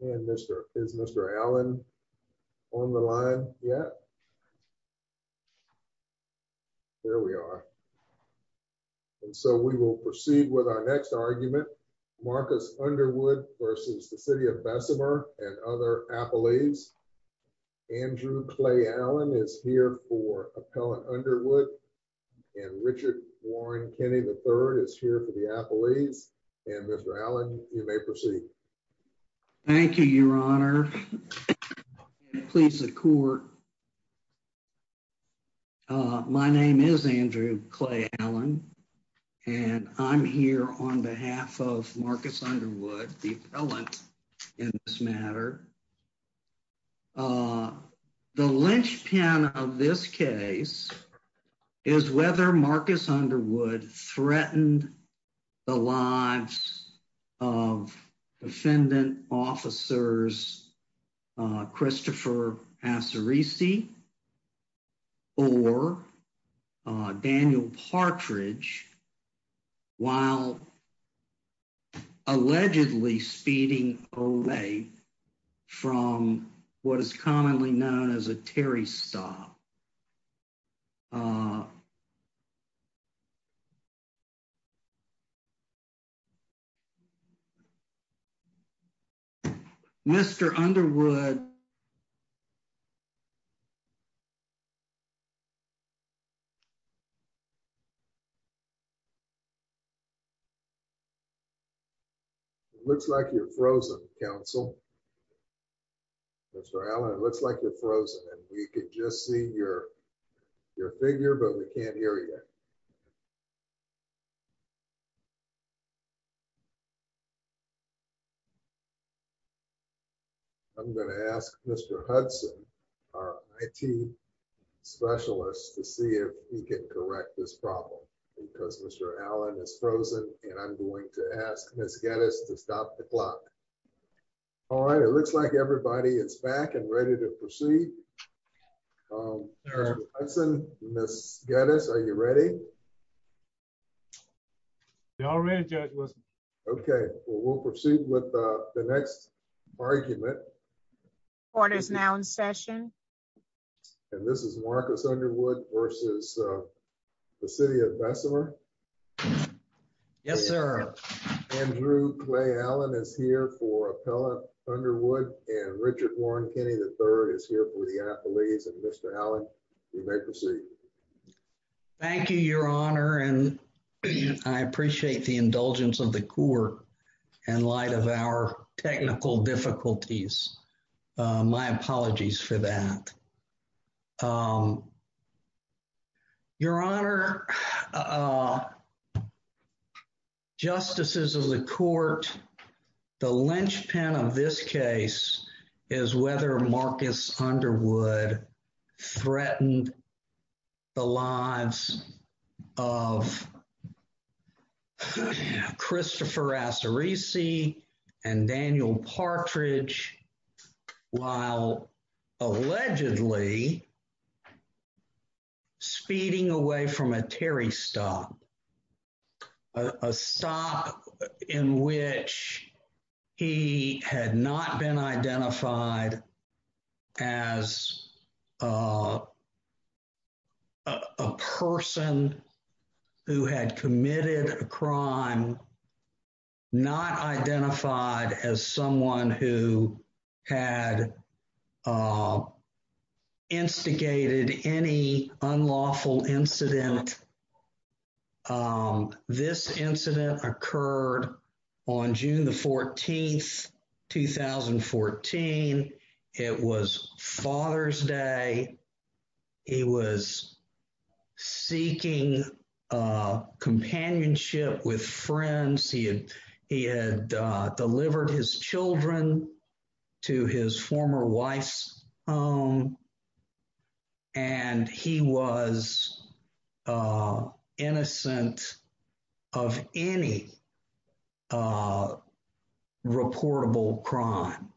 And Mr. Is Mr. Allen on the line yet? There we are. And so we will proceed with our next argument. Marcus Underwood versus the City of Bessemer and other appellees. Andrew Clay Allen is here for Appellant Underwood and Richard Warren Kenney III is here for the appellees. And Mr. Allen, you may proceed. Thank you, Your Honor. Please support. My name is Andrew Clay Allen and I'm here on behalf of Marcus Underwood, the appellant in this matter. The linchpin of this case is whether Marcus Underwood threatened the lives of defendant officers, Christopher Assarisi or Daniel Partridge while allegedly speeding away from what is commonly known as a Terry stop. Mr. Underwood. It looks like you're frozen, counsel. Mr. Allen, it looks like you're frozen and we could just see your figure, but we can't hear you. I'm gonna ask Mr. Hudson, our IT specialist to see if he can correct this problem because Mr. Allen is frozen and I'm going to ask Ms. Geddes to stop the clock. All right, it looks like everybody is back and ready to proceed. Mr. Hudson, Ms. Geddes, are you ready? They're all ready, Judge Wilson. Okay, well, we'll proceed with the next argument. Court is now in session. And this is Marcus Underwood versus the city of Bessemer. Yes, sir. Andrew Clay Allen is here for appellant Underwood and Richard Warren Kenney III is here for the appellees and Mr. Allen, you may proceed. Thank you, Your Honor. And I appreciate the indulgence of the court in light of our technical difficulties. My apologies for that. Your Honor, justices of the court, the linchpin of this case is whether Marcus Underwood threatened the lives of Christopher Assarisi and Daniel Partridge while allegedly speeding away from a Terry stop, a stop in which he had not been identified who had committed a crime, not identified as someone who had instigated any unlawful incident. This incident occurred on June the 14th, 2014. It was Father's Day. He was seeking companionship with friends. He had delivered his children to his former wife's home and he was innocent of any reportable crime.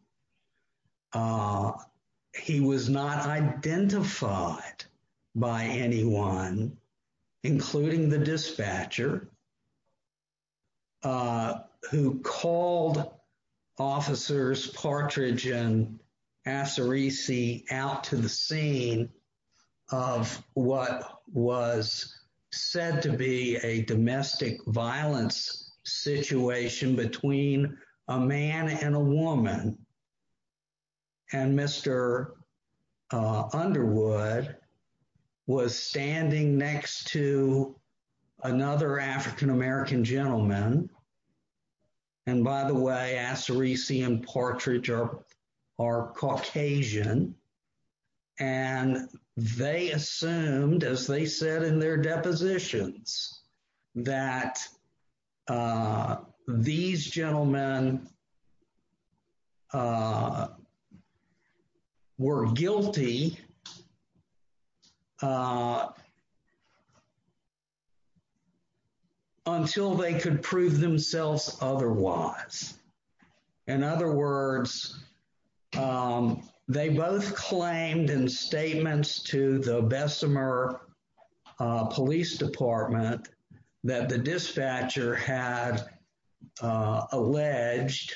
He was not identified by anyone, including the dispatcher who called officers Partridge and Assarisi out to the scene of what was said to be a domestic violence situation between a man and a woman and Mr. Underwood was standing next to another African-American gentleman. And by the way, Assarisi and Partridge are Caucasian and they assumed, as they said in their depositions, that these gentlemen, were guilty until they could prove themselves otherwise. In other words, they both claimed in statements to the Bessemer Police Department that the dispatcher had alleged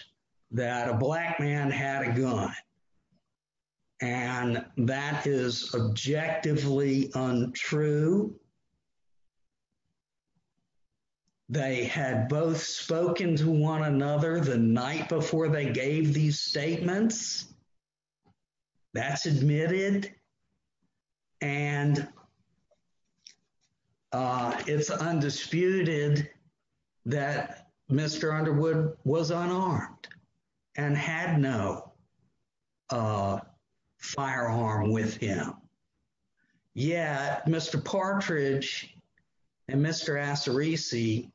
that a black man had a gun and that is objectively untrue. They had both spoken to one another the night before they gave these statements. That's admitted and it's undisputed that Mr. Underwood was unarmed and had no firearm with him. Yeah, Mr. Partridge and Mr. Assarisi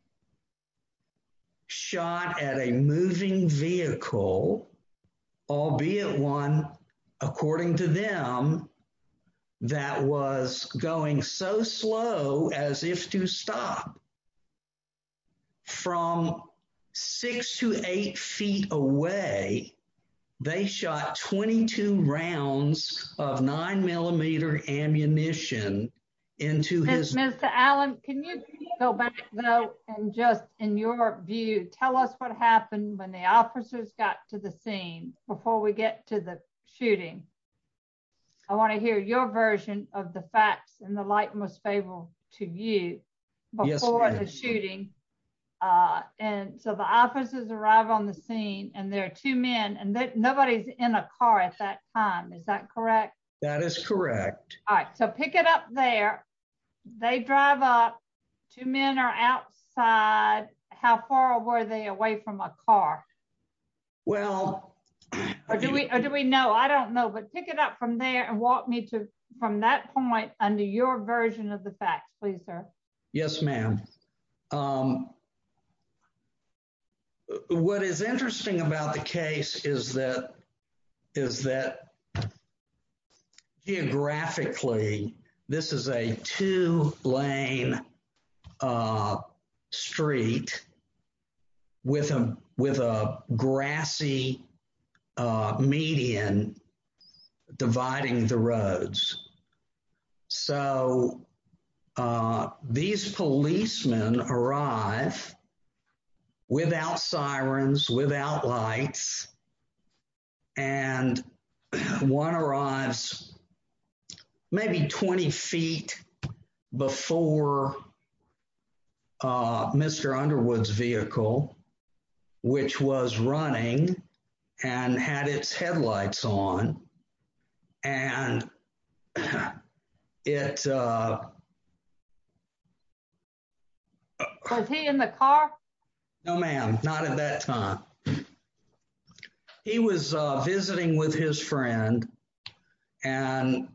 shot at a moving vehicle, albeit one, according to them, that was going so slow as if to stop. From six to eight feet away, they shot 22 rounds of nine millimeter ammunition into his- Mr. Allen, can you go back though and just in your view, tell us what happened when the officers got to the scene before we get to the shooting? I wanna hear your version of the facts and the light most favorable to you before the shooting. Yes, ma'am. And so the officers arrive on the scene and there are two men and nobody's in a car at that time. Is that correct? That is correct. All right, so pick it up there. They drive up, two men are outside. How far were they away from a car? Well- Or do we know? I don't know, but pick it up from there and walk me to, from that point, under your version of the facts, please, sir. Yes, ma'am. What is interesting about the case is that geographically, this is a two lane street with a grassy median dividing the roads. So these policemen arrive without sirens, without lights and one arrives maybe 20 feet before Mr. Underwood's vehicle, which was running and had its headlights on and it- Was he in the car? No, ma'am, not at that time. He was visiting with his friend and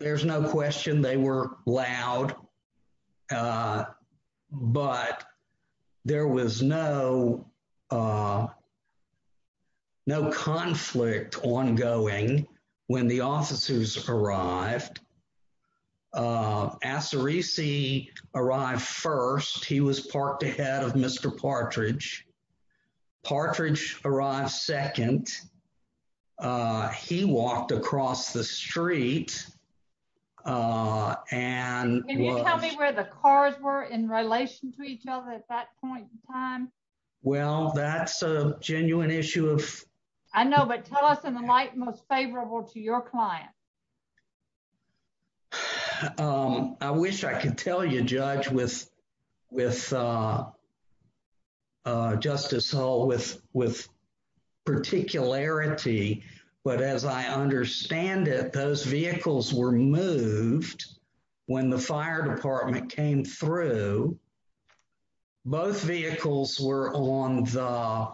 there's no question they were loud, but there was no conflict ongoing when the officers arrived. Assarisi arrived first. He was parked ahead of Mr. Partridge. Partridge arrived second. He walked across the street and- Can you tell me where the cars were in relation to each other at that point in time? Well, that's a genuine issue of- I know, but tell us in the light most favorable to your client. I wish I could tell you, Judge, with Justice Hull, with particularity, but as I understand it, those vehicles were moved when the fire department came through. Both vehicles were on the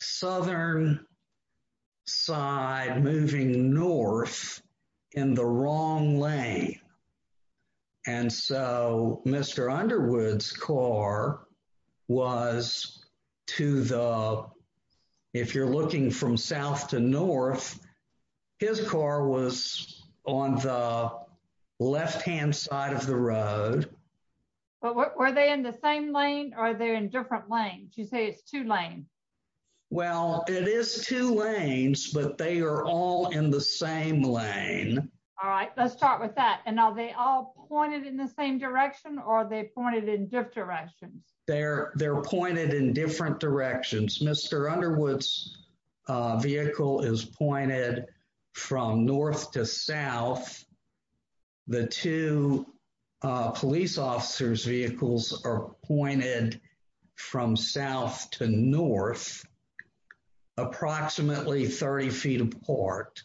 southern side, moving north in the wrong lane. And so Mr. Underwood's car was to the- If you're looking from south to north, his car was on the left-hand side of the road. But were they in the same lane or are they in different lanes? You say it's two lanes. Well, it is two lanes, but they are all in the same lane. All right, let's start with that. And are they all pointed in the same direction or are they pointed in different directions? They're pointed in different directions. Mr. Underwood's vehicle is pointed from north to south. The two police officers' vehicles are pointed from south to north, approximately 30 feet apart.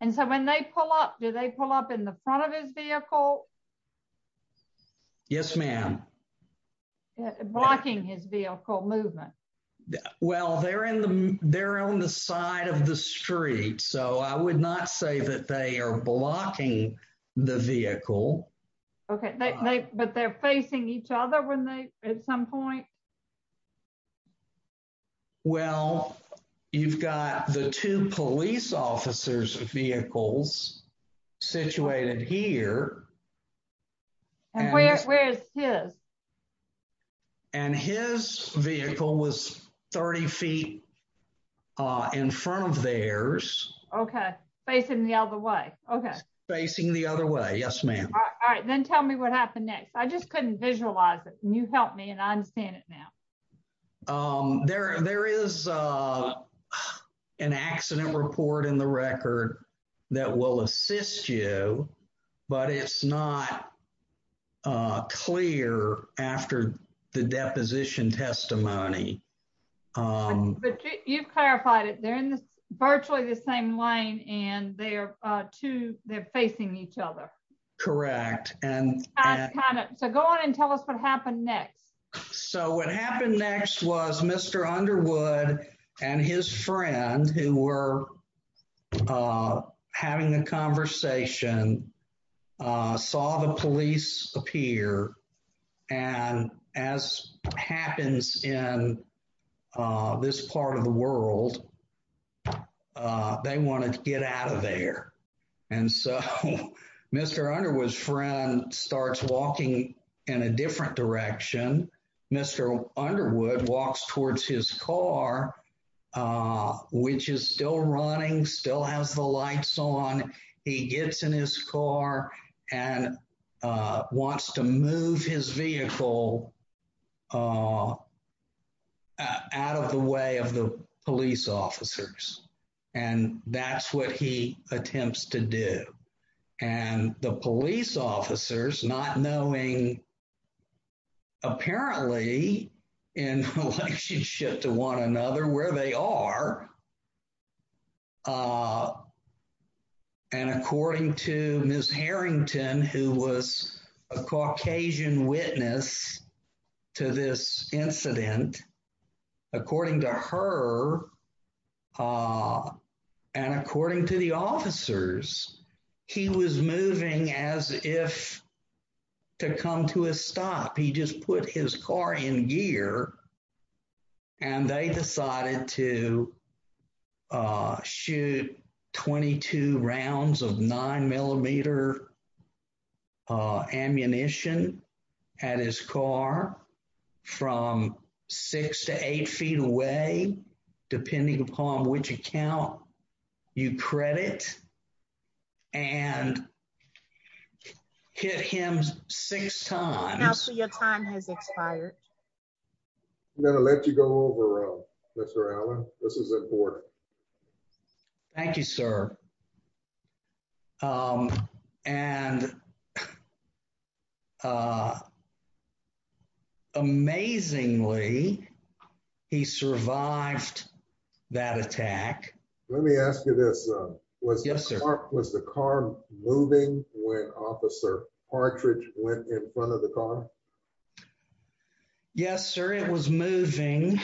And so when they pull up, do they pull up in the front of his vehicle? Yes, ma'am. Blocking his vehicle movement. Well, they're on the side of the street, so I would not say that they are blocking the vehicle. Okay, but they're facing each other at some point? Well, you've got the two police officers' vehicles situated here. And where is his? And his vehicle was 30 feet in front of theirs. Okay, facing the other way, okay. Facing the other way, yes, ma'am. All right, then tell me what happened next. I just couldn't visualize it. Can you help me? And I understand it now. There is an accident report in the record that will assist you, but it's not clear after the deposition testimony. You've clarified it. They're in virtually the same lane and they're facing each other. Correct. So go on and tell us what happened next. So what happened next was Mr. Underwood and his friend who were having a conversation saw the police appear. And as happens in this part of the world, they wanted to get out of there. And so Mr. Underwood's friend starts walking in a different direction. Mr. Underwood walks towards his car, which is still running, still has the lights on. He gets in his car and wants to move his vehicle out of the way of the police officers. And that's what he attempts to do. And the police officers, not knowing, apparently in relationship to one another where they are, and according to Ms. Harrington, who was a Caucasian witness to this incident, according to her and according to the officers, he was moving as if to come to a stop. He just put his car in gear and they decided to shoot 22 rounds of nine millimeter ammunition at his car from six to eight feet away, depending upon which account you credit and hit him six times. Now, so your time has expired. I'm gonna let you go over, Mr. Allen. This is important. Thank you, sir. And amazingly, he survived that attack. Let me ask you this. Yes, sir. Was the car moving when Officer Partridge went in front of the car? Yes, sir, it was moving.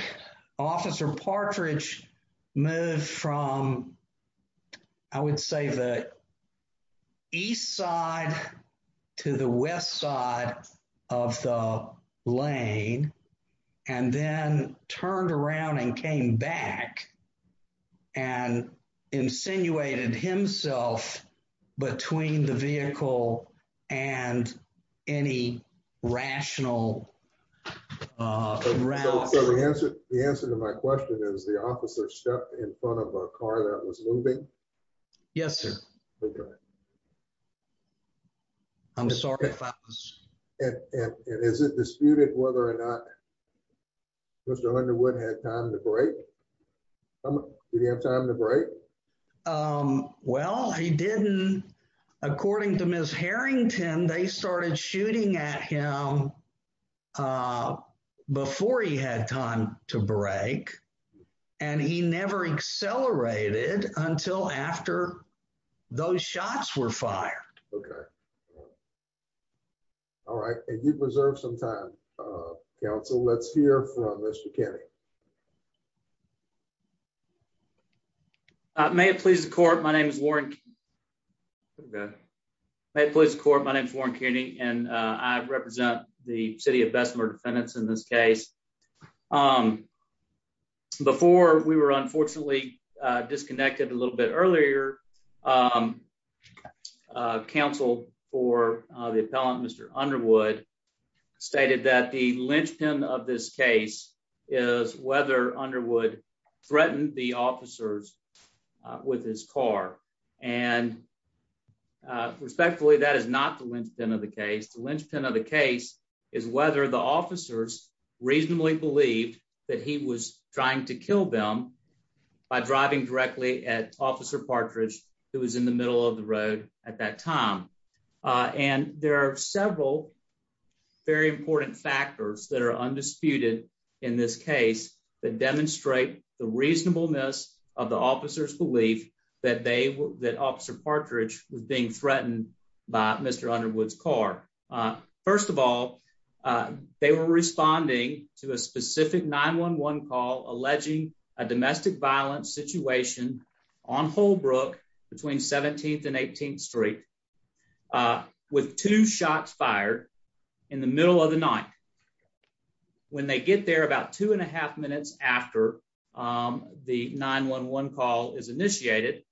Officer Partridge moved from, I would say the east side to the west side of the lane and then turned around and came back and insinuated himself between the vehicle and any rational route. The answer to my question is the officer stepped in front of a car that was moving. Yes, sir. I'm sorry if I was. And is it disputed whether or not Mr. Underwood had time to break? Did he have time to break? Well, he didn't. According to Ms. Harrington, they started shooting at him before he had time to break and he never accelerated until after those shots were fired. Okay. All right. And you've reserved some time, counsel. Let's hear from Mr. Kearney. May it please the court. My name is Warren. May it please the court. My name is Warren Kearney and I represent the city of Bessemer Defendants in this case. Before we were unfortunately disconnected a little bit earlier, counsel for the appellant, Mr. Underwood, stated that the linchpin of this case is whether Underwood threatened the officers with his car. And respectfully, that is not the linchpin of the case. The linchpin of the case is whether the officers reasonably believed that he was trying to kill them by driving directly at Officer Partridge who was in the middle of the road at that time. And there are several very important factors that are undisputed in this case that demonstrate the reasonableness of the officer's belief that Officer Partridge was being threatened by Mr. Underwood's car. First of all, they were responding to a specific 911 call alleging a domestic violence situation on Holbrook between 17th and 18th Street with two shots fired in the middle of the night. When they get there about two and a half minutes after the 911 call is initiated,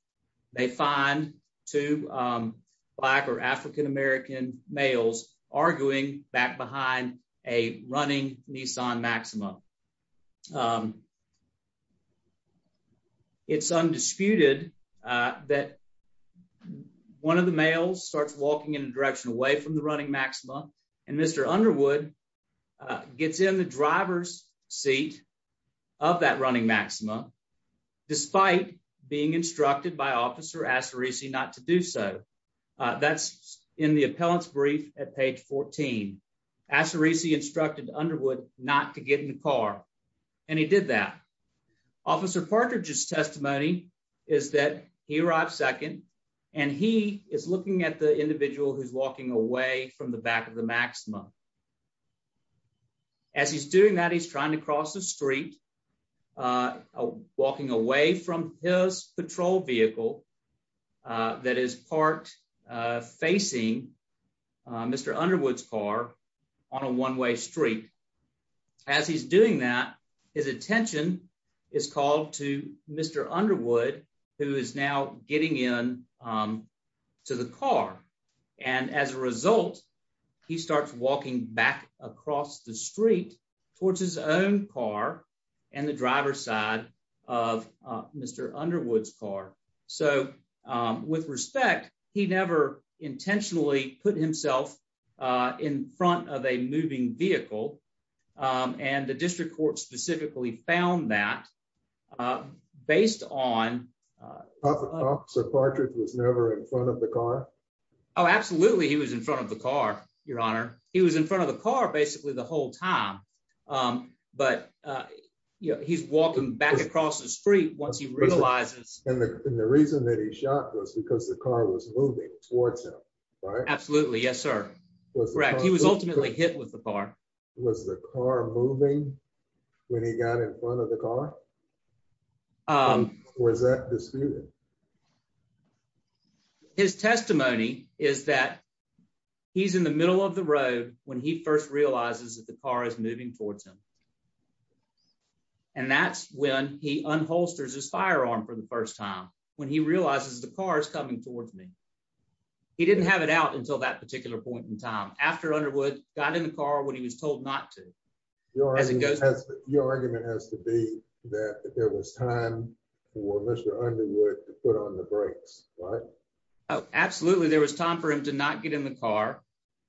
they find two black or African-American males arguing back behind a running Nissan Maxima. It's undisputed that one of the males starts walking in a direction away from the running Maxima and Mr. Underwood gets in the driver's seat of that running Maxima despite being instructed by Officer Assarisi not to do so. That's in the appellant's brief at page 14. Assarisi instructed Underwood not to get in the car and he did that. Officer Partridge's testimony is that he arrived second and he is looking at the individual who's walking away from the back of the Maxima. As he's doing that, he's trying to cross the street, walking away from his patrol vehicle that is parked facing Mr. Underwood's car on a one-way street. As he's doing that, his attention is called to Mr. Underwood who is now getting in to the car. And as a result, he starts walking back across the street towards his own car and the driver's side of Mr. Underwood's car. So with respect, he never intentionally put himself in front of a moving vehicle and the district court specifically found that based on- Officer Partridge was never in front of the car? Oh, absolutely he was in front of the car, Your Honor. He was in front of the car basically the whole time, but he's walking back across the street once he realizes- And the reason that he shot was because the car was moving towards him, right? Absolutely, yes, sir. Was the car- Correct, he was ultimately hit with the car. Was the car moving when he got in front of the car? Or is that disputed? His testimony is that he's in the middle of the road when he first realizes that the car is moving towards him. And that's when he unholsters his firearm for the first time, when he realizes the car is coming towards me. He didn't have it out until that particular point in time, after Underwood got in the car when he was told not to. Your argument has to be that there was time for Mr. Underwood to get in the car to put on the brakes, right? Oh, absolutely. There was time for him to not get in the car.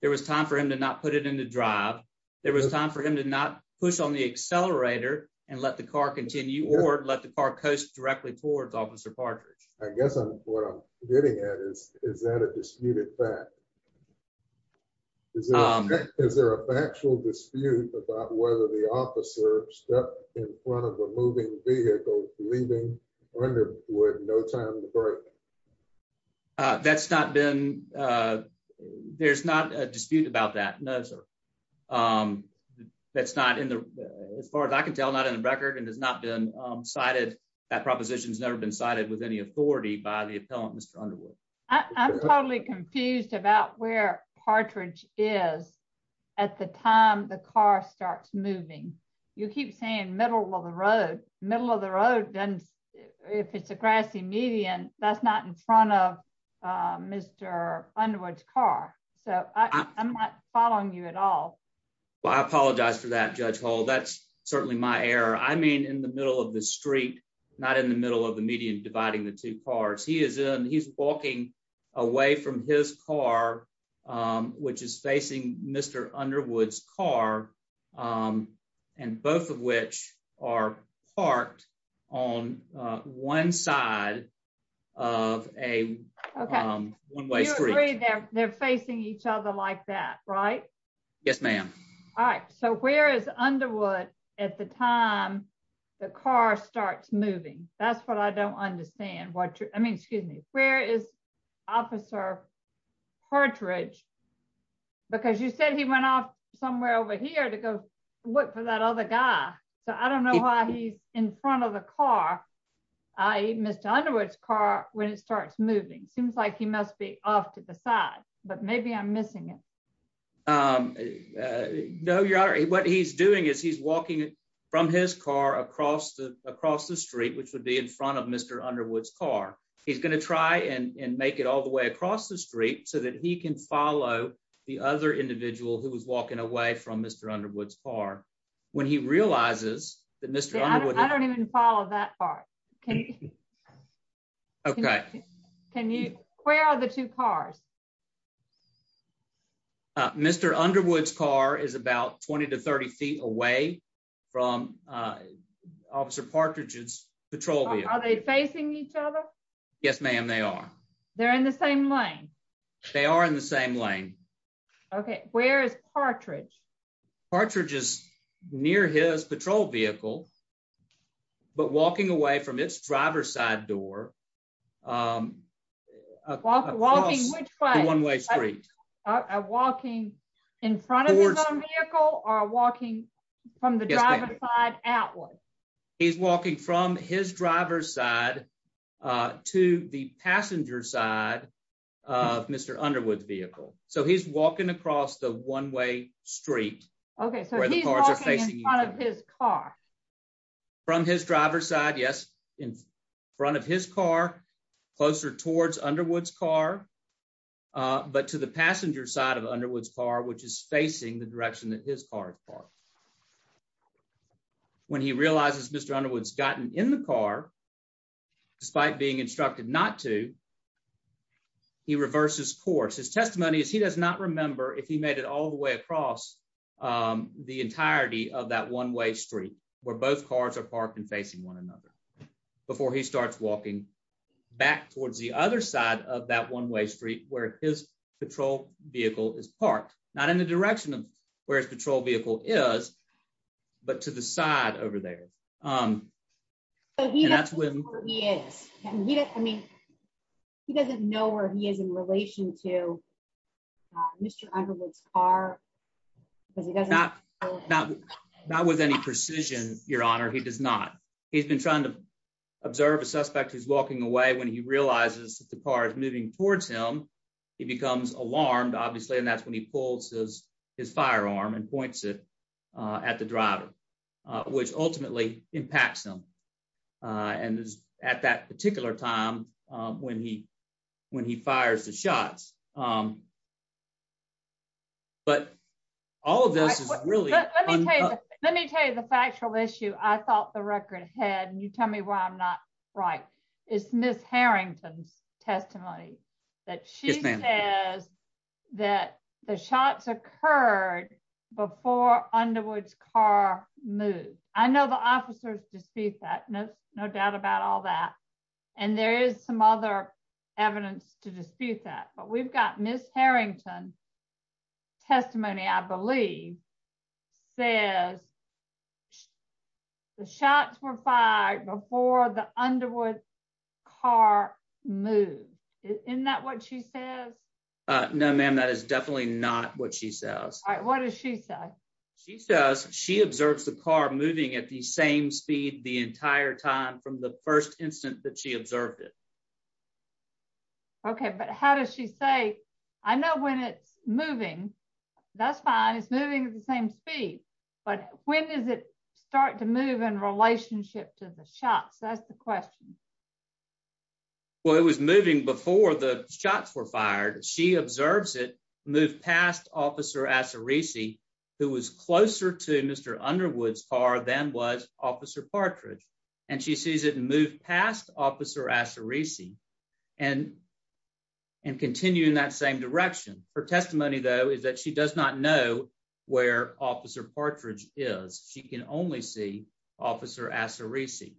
There was time for him to not put it in the drive. There was time for him to not push on the accelerator and let the car continue, or let the car coast directly towards Officer Partridge. I guess what I'm getting at is, is that a disputed fact? Is there a factual dispute about whether the officer stepped in front of a moving vehicle, leaving Underwood with no time to brake? That's not been, there's not a dispute about that. No, sir. That's not in the, as far as I can tell, not in the record and has not been cited. That proposition has never been cited with any authority by the appellant, Mr. Underwood. I'm totally confused about where Partridge is at the time the car starts moving. You keep saying middle of the road. Middle of the road, then if it's a grassy median, that's not in front of Mr. Underwood's car. So I'm not following you at all. Well, I apologize for that, Judge Hall. That's certainly my error. I mean, in the middle of the street, not in the middle of the median dividing the two cars. He is in, he's walking away from his car, which is facing Mr. Underwood's car, and both of which are parked on one side of a one-way street. You agree they're facing each other like that, right? Yes, ma'am. All right, so where is Underwood at the time the car starts moving? That's what I don't understand. I mean, excuse me, where is Officer Partridge? Because you said he went off somewhere over here to go look for that other guy. So I don't know why he's in front of the car, i.e., Mr. Underwood's car, when it starts moving. Seems like he must be off to the side, but maybe I'm missing it. No, Your Honor, what he's doing is he's walking from his car across the street, which would be in front of Mr. Underwood's car. He's gonna try and make it all the way across the street so that he can follow the other individual who was walking away from Mr. Underwood's car when he realizes that Mr. Underwood- I don't even follow that part. Okay. Can you, where are the two cars? Mr. Underwood's car is about 20 to 30 feet away from Officer Partridge's patrol vehicle. Are they facing each other? Yes, ma'am, they are. They're in the same lane? They are in the same lane. Okay, where is Partridge? Partridge is near his patrol vehicle, but walking away from its driver's side door. Walking which way? Across the one-way street. Walking in front of his own vehicle or walking from the driver's side outward? He's walking from his driver's side to the passenger side of Mr. Underwood's vehicle. So he's walking across the one-way street. Okay, so he's walking in front of his car. From his driver's side, yes, in front of his car, closer towards Underwood's car, but to the passenger side of Underwood's car, which is facing the direction that his car is parked. Now, when he realizes Mr. Underwood's gotten in the car, despite being instructed not to, he reverses course. His testimony is he does not remember if he made it all the way across the entirety of that one-way street where both cars are parked and facing one another before he starts walking back towards the other side of that one-way street where his patrol vehicle is parked, not in the direction of where his patrol vehicle is, but to the side over there. So he doesn't know where he is. I mean, he doesn't know where he is in relation to Mr. Underwood's car because he doesn't know where he is. Not with any precision, Your Honor, he does not. He's been trying to observe a suspect who's walking away when he realizes that the car is moving towards him. He becomes alarmed, obviously, and that's when he pulls his firearm and points it at the driver, which ultimately impacts him. And it's at that particular time when he fires the shots. But all of this is really- Let me tell you the factual issue I thought the record had, and you tell me why I'm not right. It's Ms. Harrington's testimony that she says that the shots occurred before Underwood's car moved. I know the officers dispute that, no doubt about all that, and there is some other evidence to dispute that, but we've got Ms. Harrington's testimony, I believe, says the shots were fired before the Underwood car moved. Isn't that what she says? No, ma'am, that is definitely not what she says. All right, what does she say? She says she observes the car moving at the same speed the entire time from the first instant that she observed it. Okay, but how does she say? I know when it's moving, that's fine, it's moving at the same speed, but when does it start to move in relationship to the shots? That's the question. Well, it was moving before the shots were fired. She observes it move past Officer Asareci, who was closer to Mr. Underwood's car than was Officer Partridge, and she sees it move past Officer Asareci and continue in that same direction. Her testimony, though, is that she does not know where Officer Partridge is. She can only see Officer Asareci.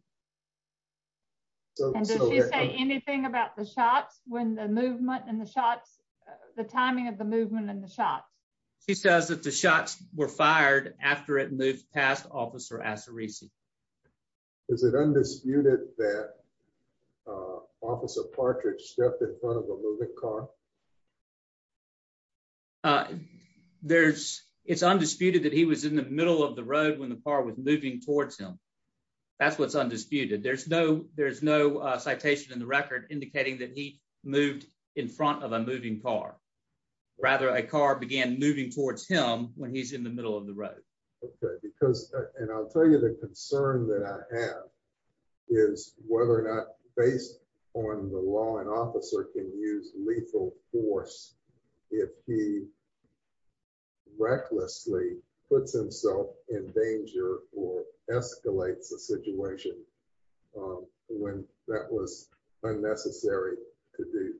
And does she say anything about the shots, when the movement and the shots, the timing of the movement and the shots? She says that the shots were fired after it moved past Officer Asareci. Is it undisputed that Officer Partridge stepped in front of a moving car? It's undisputed that he was in the middle of the road when the car was moving towards him. That's what's undisputed. There's no citation in the record indicating that he moved in front of a moving car. Rather, a car began moving towards him when he's in the middle of the road. Okay, because, and I'll tell you the concern that I have is whether or not, based on the law, an officer can use lethal force if he recklessly puts himself in danger or escalates a situation when that was unnecessary to do.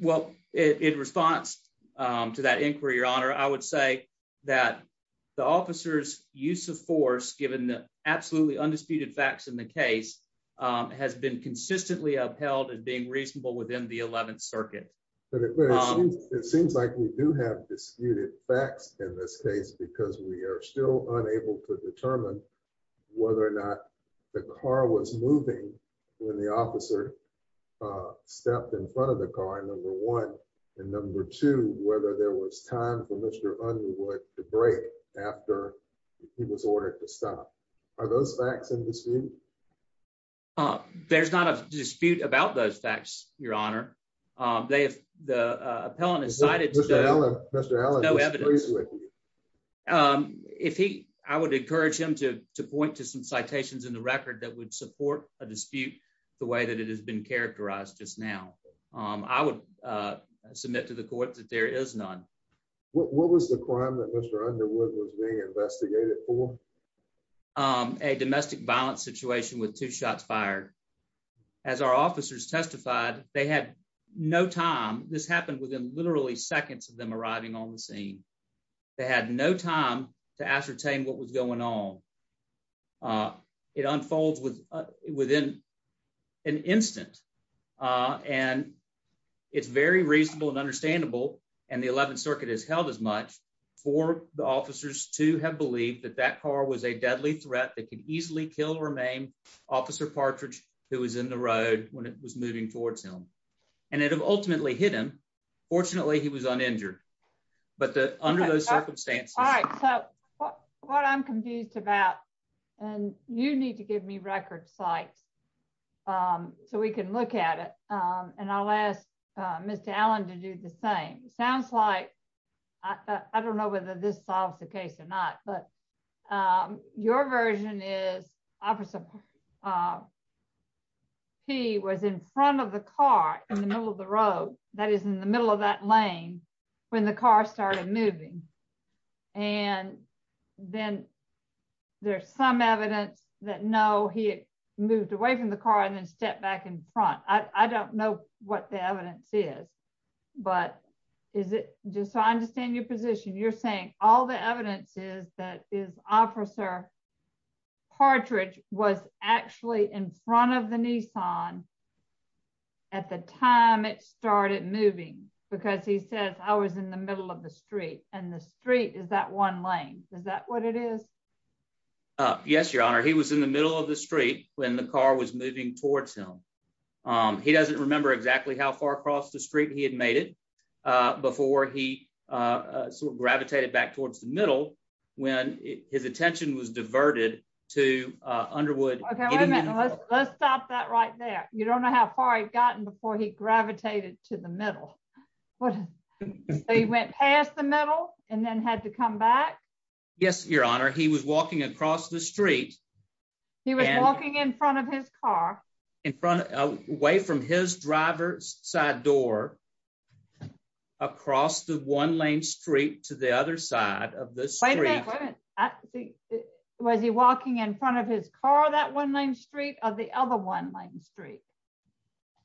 Well, in response to that inquiry, Your Honor, I would say that the officer's use of force, given the absolutely undisputed facts in the case, has been consistently upheld as being reasonable within the 11th Circuit. It seems like we do have disputed facts in this case because we are still unable to determine whether or not the car was moving when the officer stepped in front of the car, number one, and number two, whether there was time for Mr. Underwood to brake after he was ordered to stop. Are those facts in dispute? There's not a dispute about those facts, Your Honor. The appellant has cited- Mr. Allen is pleased with you. If he, I would encourage him to point to some citations in the record that would support a dispute the way that it has been characterized just now. I would submit to the court that there is none. What was the crime that Mr. Underwood was being investigated for? A domestic violence situation with two shots fired. As our officers testified, they had no time. This happened within literally seconds of them arriving on the scene. They had no time to ascertain what was going on. It unfolds within an instant, and it's very reasonable and understandable, and the 11th Circuit has held as much for the officers to have believed that that car was a deadly threat that could easily kill or maim Officer Partridge, who was in the road when it was moving towards him. And it had ultimately hit him. Fortunately, he was uninjured. But under those circumstances- All right, so what I'm confused about, and you need to give me record sites so we can look at it, and I'll ask Mr. Allen to do the same. Sounds like, I don't know whether this solves the case or not, but your version is Officer P was in front of the car in the middle of the road, that is, in the middle of that lane when the car started moving. And then there's some evidence that, no, he had moved away from the car and then stepped back in front. I don't know what the evidence is, but is it, just so I understand your position, you're saying all the evidence is that is Officer Partridge was actually in front of the Nissan at the time it started moving because he says, I was in the middle of the street, and the street is that one lane. Is that what it is? Yes, Your Honor. He was in the middle of the street when the car was moving towards him. He doesn't remember exactly how far across the street he had made it before he sort of gravitated back towards the middle when his attention was diverted to Underwood. Okay, wait a minute. Let's stop that right there. You don't know how far he'd gotten before he gravitated to the middle. So he went past the middle and then had to come back? Yes, Your Honor. He was walking across the street. He was walking in front of his car. In front, away from his driver's side door across the one lane street to the other side of the street. Was he walking in front of his car, that one lane street or the other one lane street?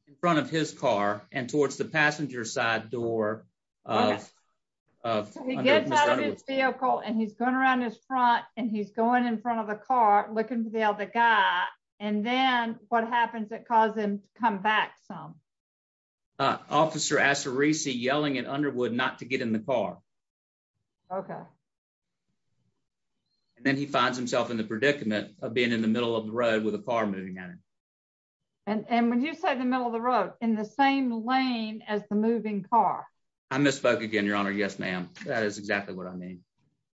In front of his car and towards the passenger side door of Underwood. So he gets out of his vehicle and he's going around his front and he's going in front of the car, looking for the other guy. And then what happens that caused him to come back some? Officer Asarisi yelling at Underwood not to get in the car. Okay. And then he finds himself in the predicament of being in the middle of the road with a car moving at him. And when you say the middle of the road, in the same lane as the moving car? I misspoke again, Your Honor. Yes, ma'am. That is exactly what I mean.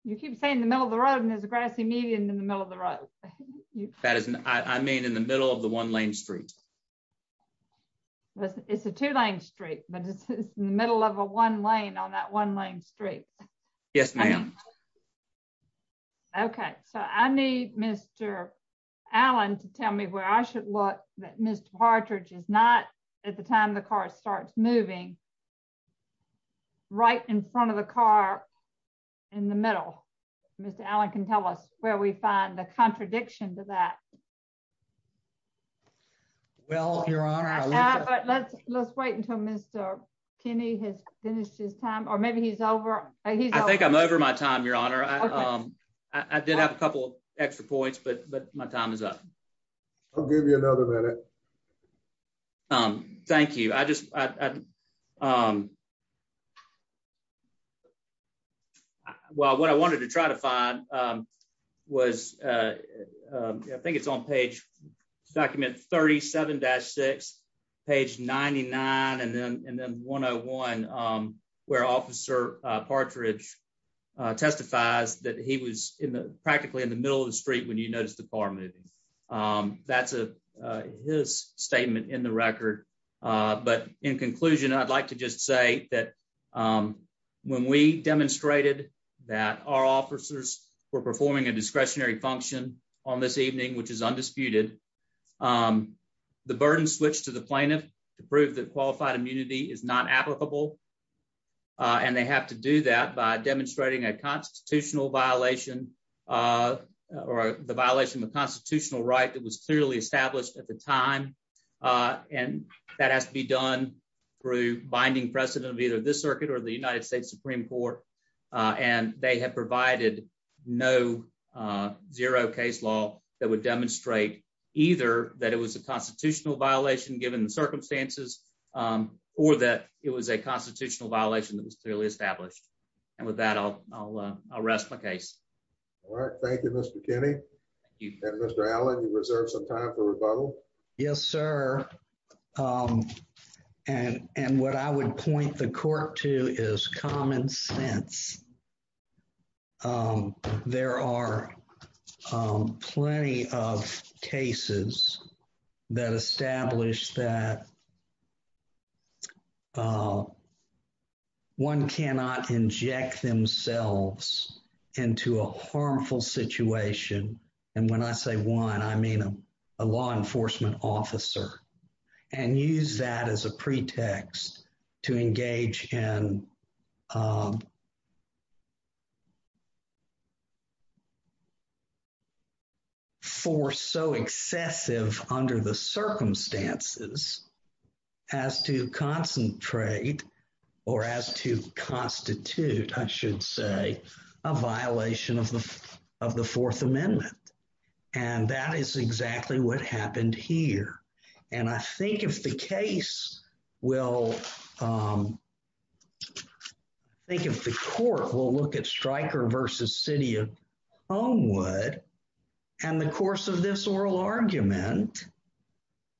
You keep saying the middle of the road and there's a grassy median in the middle of the road. That is, I mean, in the middle of the one lane street. It's a two lane street, but it's in the middle of a one lane on that one lane street. Yes, ma'am. Okay. So I need Mr. Allen to tell me where I should look that Mr. Partridge is not at the time the car starts moving, right in front of the car in the middle. Mr. Allen can tell us where we find the contradiction to that. Well, Your Honor, I think- Let's wait until Mr. Kinney has finished his time or maybe he's over. I think I'm over my time, Your Honor. I did have a couple extra points, but my time is up. I'll give you another minute. Thank you. Well, what I wanted to try to find was, I think it's on page, document 37-6, page 99 and then 101, where Officer Partridge testifies that he was practically in the middle of the street when you noticed the car moving. That's his statement in the record. But in conclusion, I'd like to just say that when we demonstrated that our officers were performing a discretionary function on this evening, which is undisputed, the burden switched to the plaintiff to prove that qualified immunity is not applicable. And they have to do that by demonstrating a constitutional violation or the violation of a constitutional right that was clearly established at the time. And that has to be done through binding precedent of either this circuit or the United States Supreme Court. And they have provided no zero case law that would demonstrate either that it was a constitutional violation given the circumstances or that it was a constitutional violation that was clearly established. And with that, I'll rest my case. All right, thank you, Mr. Kinney. And Mr. Allen, you reserve some time for rebuttal. Yes, sir. And what I would point the court to is common sense. There are plenty of cases that establish that one cannot inject themselves into a harmful situation. And when I say one, I mean a law enforcement officer. And use that as a pretext to engage in force so excessive under the circumstances as to concentrate or as to constitute, I should say, a violation of the Fourth Amendment. And that is exactly what happened here. And I think if the case will, think if the court will look at Stryker versus city of Homewood, and the course of this oral argument,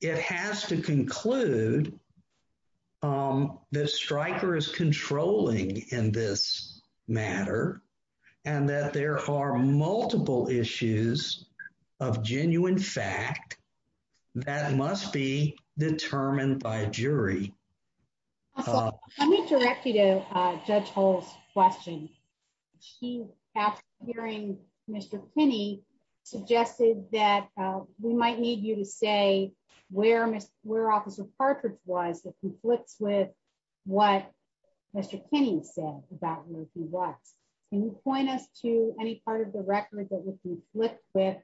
it has to conclude that Stryker is controlling in this matter and that there are multiple issues of genuine fact that must be determined by a jury. Let me direct you to Judge Hull's question. She, after hearing Mr. Kinney, suggested that we might need you to say where Officer Partridge was that conflicts with what Mr. Kinney said about where he was. Can you point us to any part of the record that would conflict with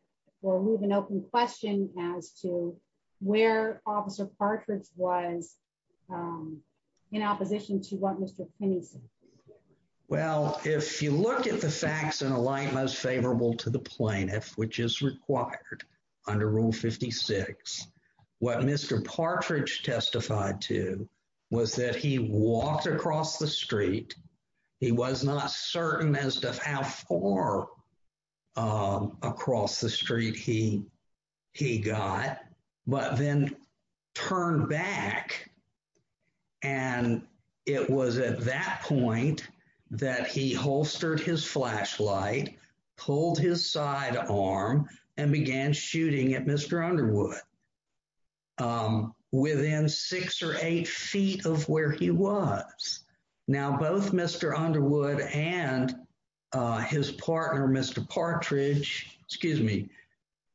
or move an open question as to where Officer Partridge was in opposition to what Mr. Kinney said? Well, if you look at the facts in a light most favorable to the plaintiff, which is required under Rule 56, what Mr. Partridge testified to was that he walked across the street. He was not certain as to how far across the street he got, but then turned back. And it was at that point that he holstered his flashlight, pulled his side arm and began shooting at Mr. Underwood within six or eight feet of where he was. Now, both Mr. Underwood and his partner, Mr. Partridge, excuse me,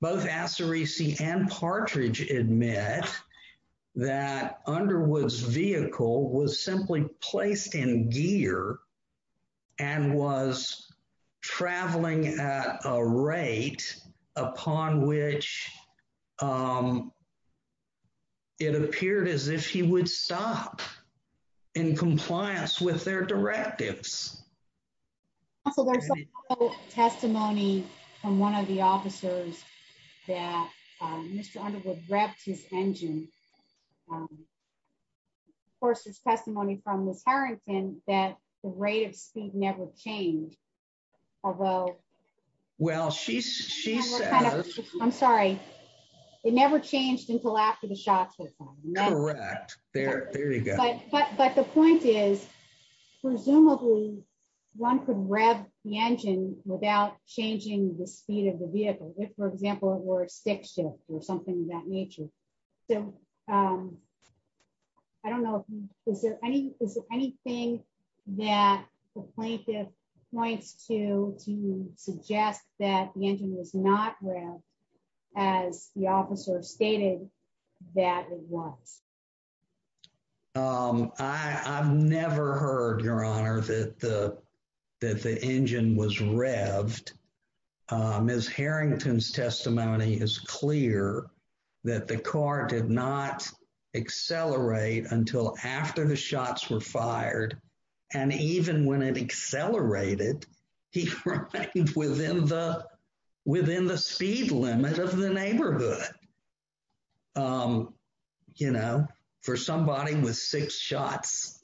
both Asserisi and Partridge admit that Underwood's vehicle was simply placed in gear and was traveling at a rate upon which it appeared as if he would stop in compliance with their directives. Also, there's testimony from one of the officers that Mr. Underwood revved his engine. Of course, there's testimony from Ms. Harrington that the rate of speed never changed, although- Well, she says- I'm sorry. It never changed until after the shots were fired. Correct, there you go. But the point is, presumably one could rev the engine without changing the speed of the vehicle, if, for example, it were a stick shift or something of that nature. So I don't know, is there anything that the plaintiff points to to suggest that the engine was not revved as the officer stated that it was? I've never heard, Your Honor, that the engine was revved. Ms. Harrington's testimony is clear that the car did not accelerate until after the shots were fired. And even when it accelerated, he remained within the speed limit of the neighborhood. You know, for somebody with six shots,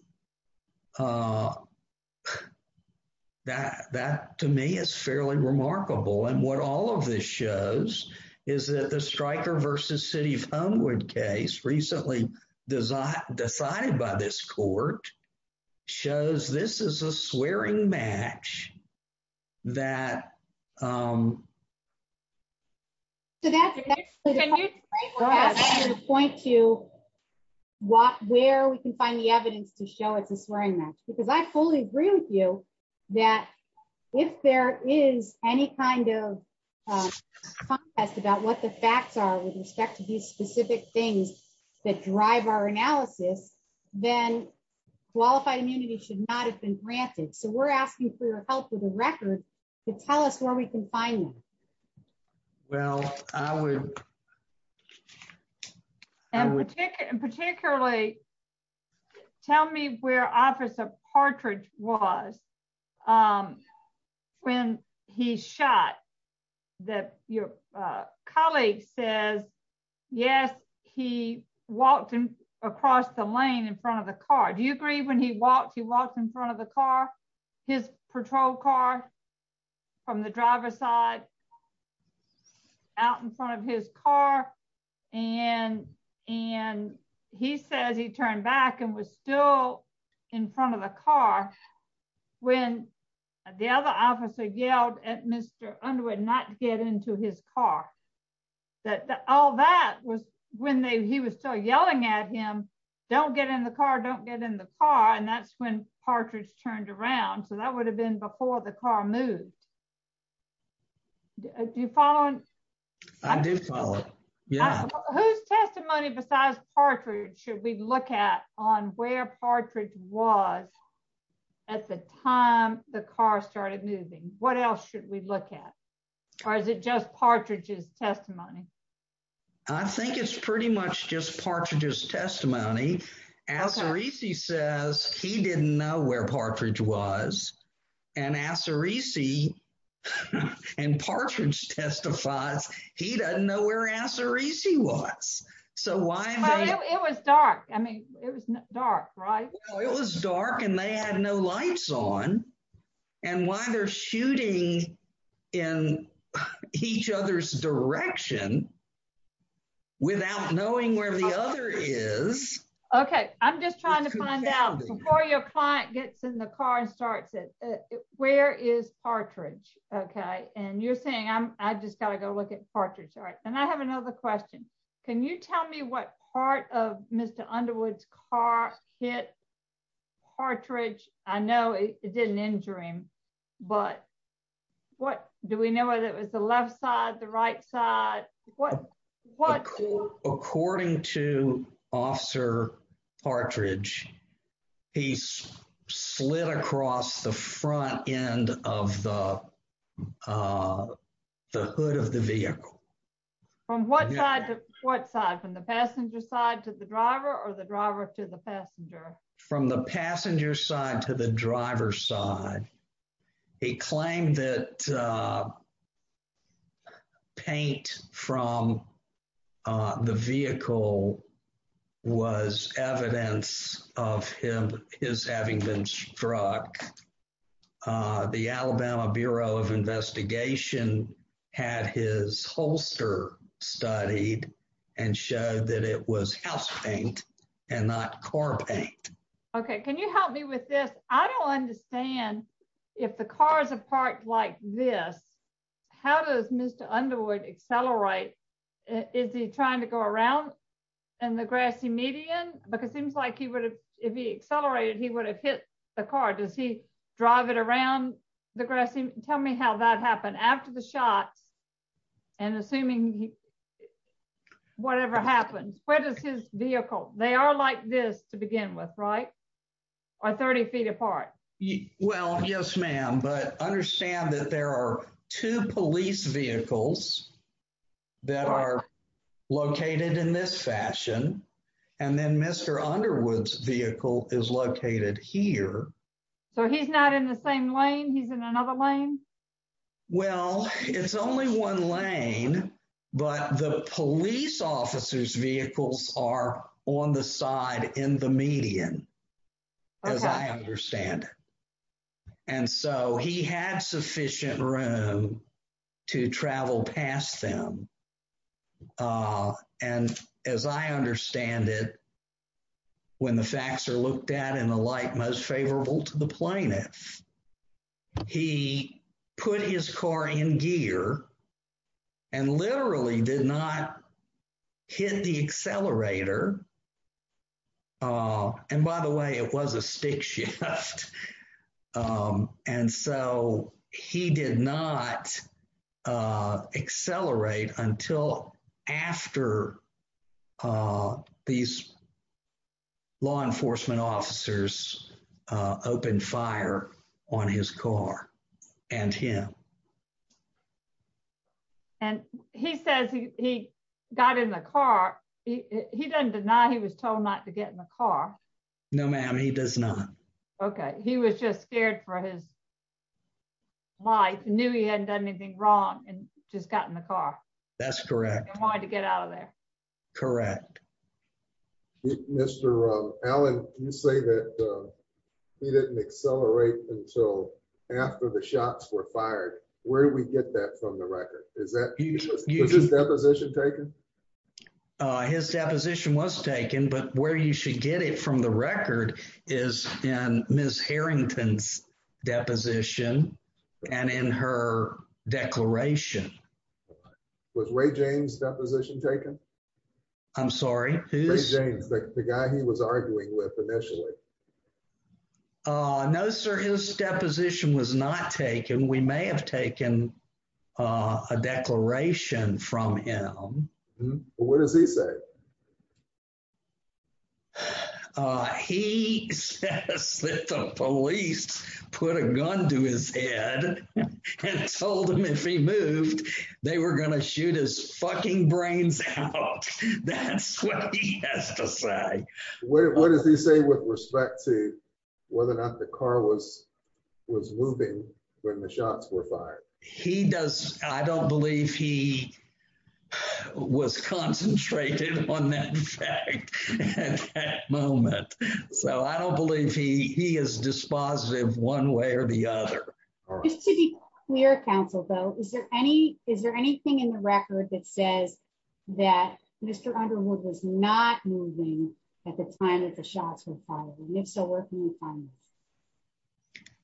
that to me is fairly remarkable. And what all of this shows is that the Stryker v. City of Homewood case recently decided by this court shows this is a swearing match that- Can you point to where we can find the evidence to show it's a swearing match? Because I fully agree with you that if there is any kind of contest about what the facts are with respect to these specific things that drive our analysis, then qualified immunity should not have been granted. So we're asking for your help with the record to tell us where we can find them. Well, I would- And particularly, tell me where Officer Partridge was when he shot that your colleague says, yes, he walked across the lane in front of the car. Do you agree when he walked, he walked in front of the car, his patrol car from the driver's side, out in front of his car. And he says he turned back and was still in front of the car when the other officer yelled at Mr. Underwood not to get into his car. That all that was when he was still yelling at him, don't get in the car, don't get in the car. And that's when Partridge turned around. So that would have been before the car moved. Do you follow? I do follow, yeah. Whose testimony besides Partridge should we look at on where Partridge was at the time the car started moving? What else should we look at? Or is it just Partridge's testimony? I think it's pretty much just Partridge's testimony. Assarisi says he didn't know where Partridge was and Assarisi and Partridge testifies, he doesn't know where Assarisi was. So why- It was dark. I mean, it was dark, right? It was dark and they had no lights on. And why they're shooting in each other's direction without knowing where the other is- Okay, I'm just trying to find out before your client gets in the car and starts it, where is Partridge? Okay, and you're saying I just got to go look at Partridge. All right, and I have another question. Can you tell me what part of Mr. Underwood's car hit Partridge? I know it didn't injure him, but do we know whether it was the left side, the right side? What- According to Officer Partridge, he slid across the front end of the hood of the vehicle. From what side? From the passenger side to the driver or the driver to the passenger? From the passenger side to the driver's side. He claimed that paint from the vehicle was evidence of his having been struck. The Alabama Bureau of Investigation had his holster studied and showed that it was house paint and not car paint. Okay, can you help me with this? I don't understand if the car's a part like this, how does Mr. Underwood accelerate? Is he trying to go around in the grassy median? Because it seems like if he accelerated, he would have hit the car. Does he drive it around the grassy- Tell me how that happened. After the shots and assuming whatever happens, where does his vehicle- They are like this to begin with, right? Or 30 feet apart? Well, yes, ma'am, but understand that there are two police vehicles that are located in this fashion, and then Mr. Underwood's vehicle is located here. So he's not in the same lane? He's in another lane? Well, it's only one lane, but the police officer's vehicles are on the side in the median. Okay. As I understand it. And so he had sufficient room to travel past them. And as I understand it, when the facts are looked at in a light most favorable to the plaintiff, he put his car in gear and literally did not hit the accelerator. And by the way, it was a stick shift. And so he did not accelerate until after these law enforcement officers opened fire on his car and him. And he says he got in the car. He doesn't deny he was told not to get in the car. No, ma'am, he does not. Okay. He was just scared for his life. He knew he hadn't done anything wrong and just got in the car. That's correct. He wanted to get out of there. Correct. Mr. Allen, you say that he didn't accelerate until after the shots were fired. Where do we get that from the record? Is that position taken? His deposition was taken, but where you should get it from the record is in Ms. Harrington's deposition and in her declaration. Was Ray James' deposition taken? I'm sorry, who's- Ray James, the guy he was arguing with initially. No, sir, his deposition was not taken. We may have taken a declaration from him. What does he say? He says that the police put a gun to his head and told him if he moved, they were going to shoot his fucking brains out. That's what he has to say. What does he say with respect to whether or not the car was moving when the shots were fired? I don't believe he was concentrated on that fact at that moment. So I don't believe he is dispositive one way or the other. Just to be clear, counsel, though, is there anything in the record that says that Mr. Underwood was not moving at the time that the shots were fired? And if so, where can we find this?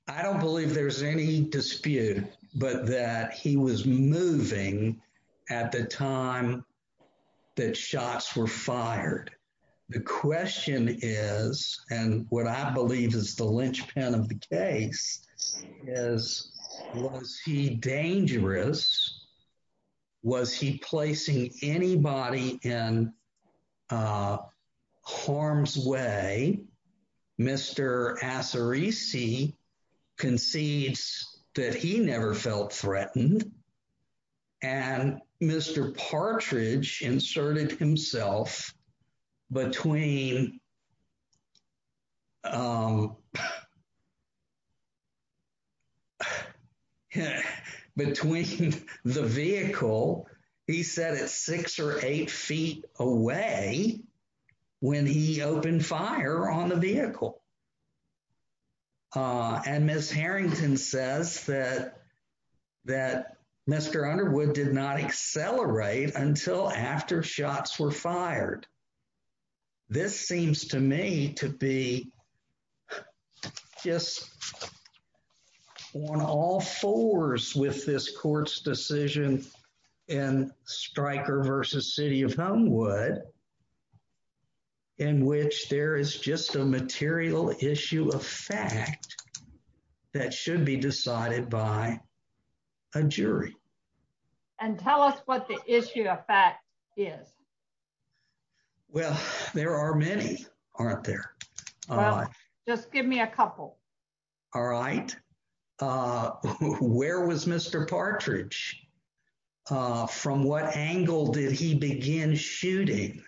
I don't believe there's any dispute, but that he was moving at the time that shots were fired. The question is, and what I believe is the linchpin of the case, is, was he dangerous? Was he placing anybody in harm's way? Mr. Assarisi concedes that he never felt threatened. And Mr. Partridge inserted himself between. Between the vehicle, he said it's six or eight feet away when he opened fire on the vehicle. And Miss Harrington says that that Mr. Underwood did not accelerate until after shots were fired. This seems to me to be just on all fours with this court's decision and Stryker versus City of Homewood. In which there is just a material issue of fact that should be decided by a jury. And tell us what the issue of fact is. Well, there are many, aren't there? Just give me a couple. All right. Uh, where was Mr. Partridge from? What angle did he begin shooting?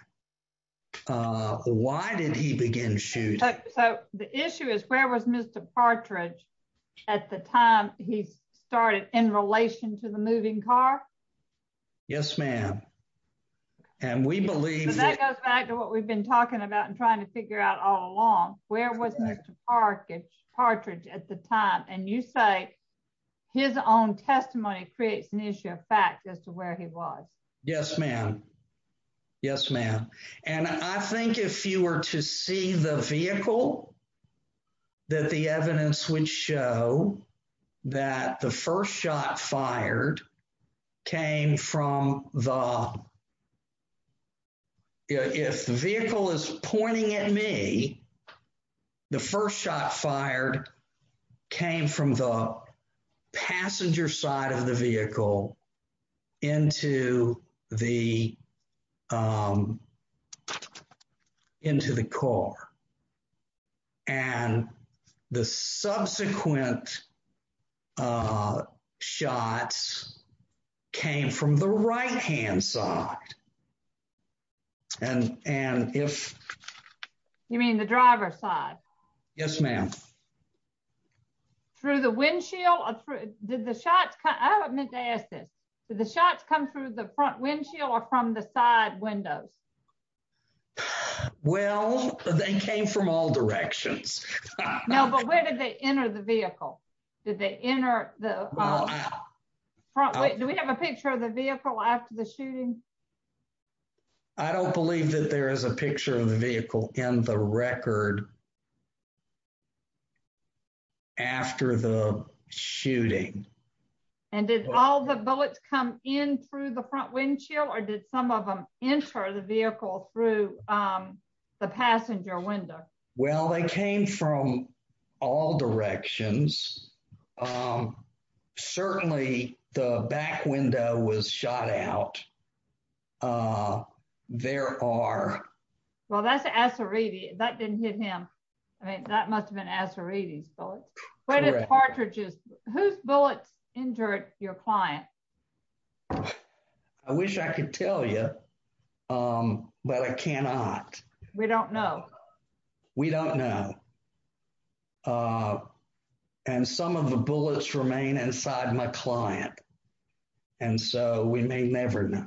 Why did he begin shooting? So the issue is, where was Mr. Partridge at the time he started in relation to the moving car? Yes, ma'am. And we believe that goes back to what we've been talking about and trying to figure out all along, where was Mr. Partridge at the time? And you say his own testimony creates an issue of fact as to where he was. Yes, ma'am. Yes, ma'am. And I think if you were to see the vehicle. That the evidence would show that the first shot fired came from the. If the vehicle is pointing at me, the first shot fired came from the passenger side of the vehicle into the. Into the car. And the subsequent shots came from the right hand side. And and if. You mean the driver's side? Yes, ma'am. Through the windshield, did the shots come? I meant to ask this. Did the shots come through the front windshield or from the side windows? Well, they came from all directions. No, but where did they enter the vehicle? Did they enter the front? Do we have a picture of the vehicle after the shooting? I don't believe that there is a picture of the vehicle in the record. After the shooting. And did all the bullets come in through the front windshield or did some of them enter the vehicle through the passenger window? Well, they came from all directions. Certainly the back window was shot out. Uh, there are. Well, that's a sorority that didn't hit him. I mean, that must have been a sorority bullet. But it's cartridges whose bullets injured your client. I wish I could tell you, but I cannot. We don't know. We don't know. And some of the bullets remain inside my client. And so we may never know.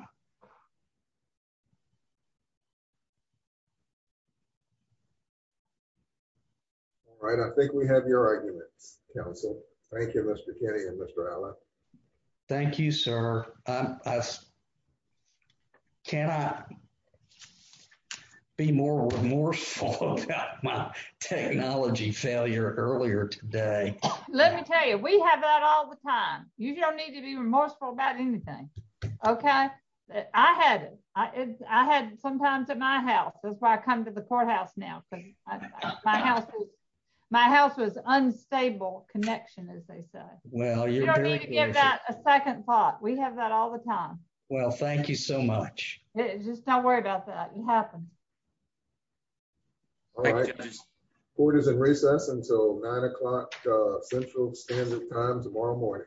All right, I think we have your arguments, counsel. Thank you, Mr. Kenny and Mr. Allen. Thank you, sir. Can I be more remorseful about my technology failure earlier today? Let me tell you, we have that all the time. You don't need to be remorseful about anything. OK, I had I had sometimes at my house. That's why I come to the courthouse now. But my house, my house was unstable connection, as they say. Well, you don't need to give that a second thought. We have that all the time. Well, thank you so much. Just don't worry about that. It happens. All right. Court is in recess until nine o'clock Central Standard Time tomorrow morning.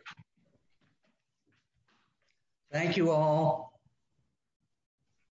Thank you all.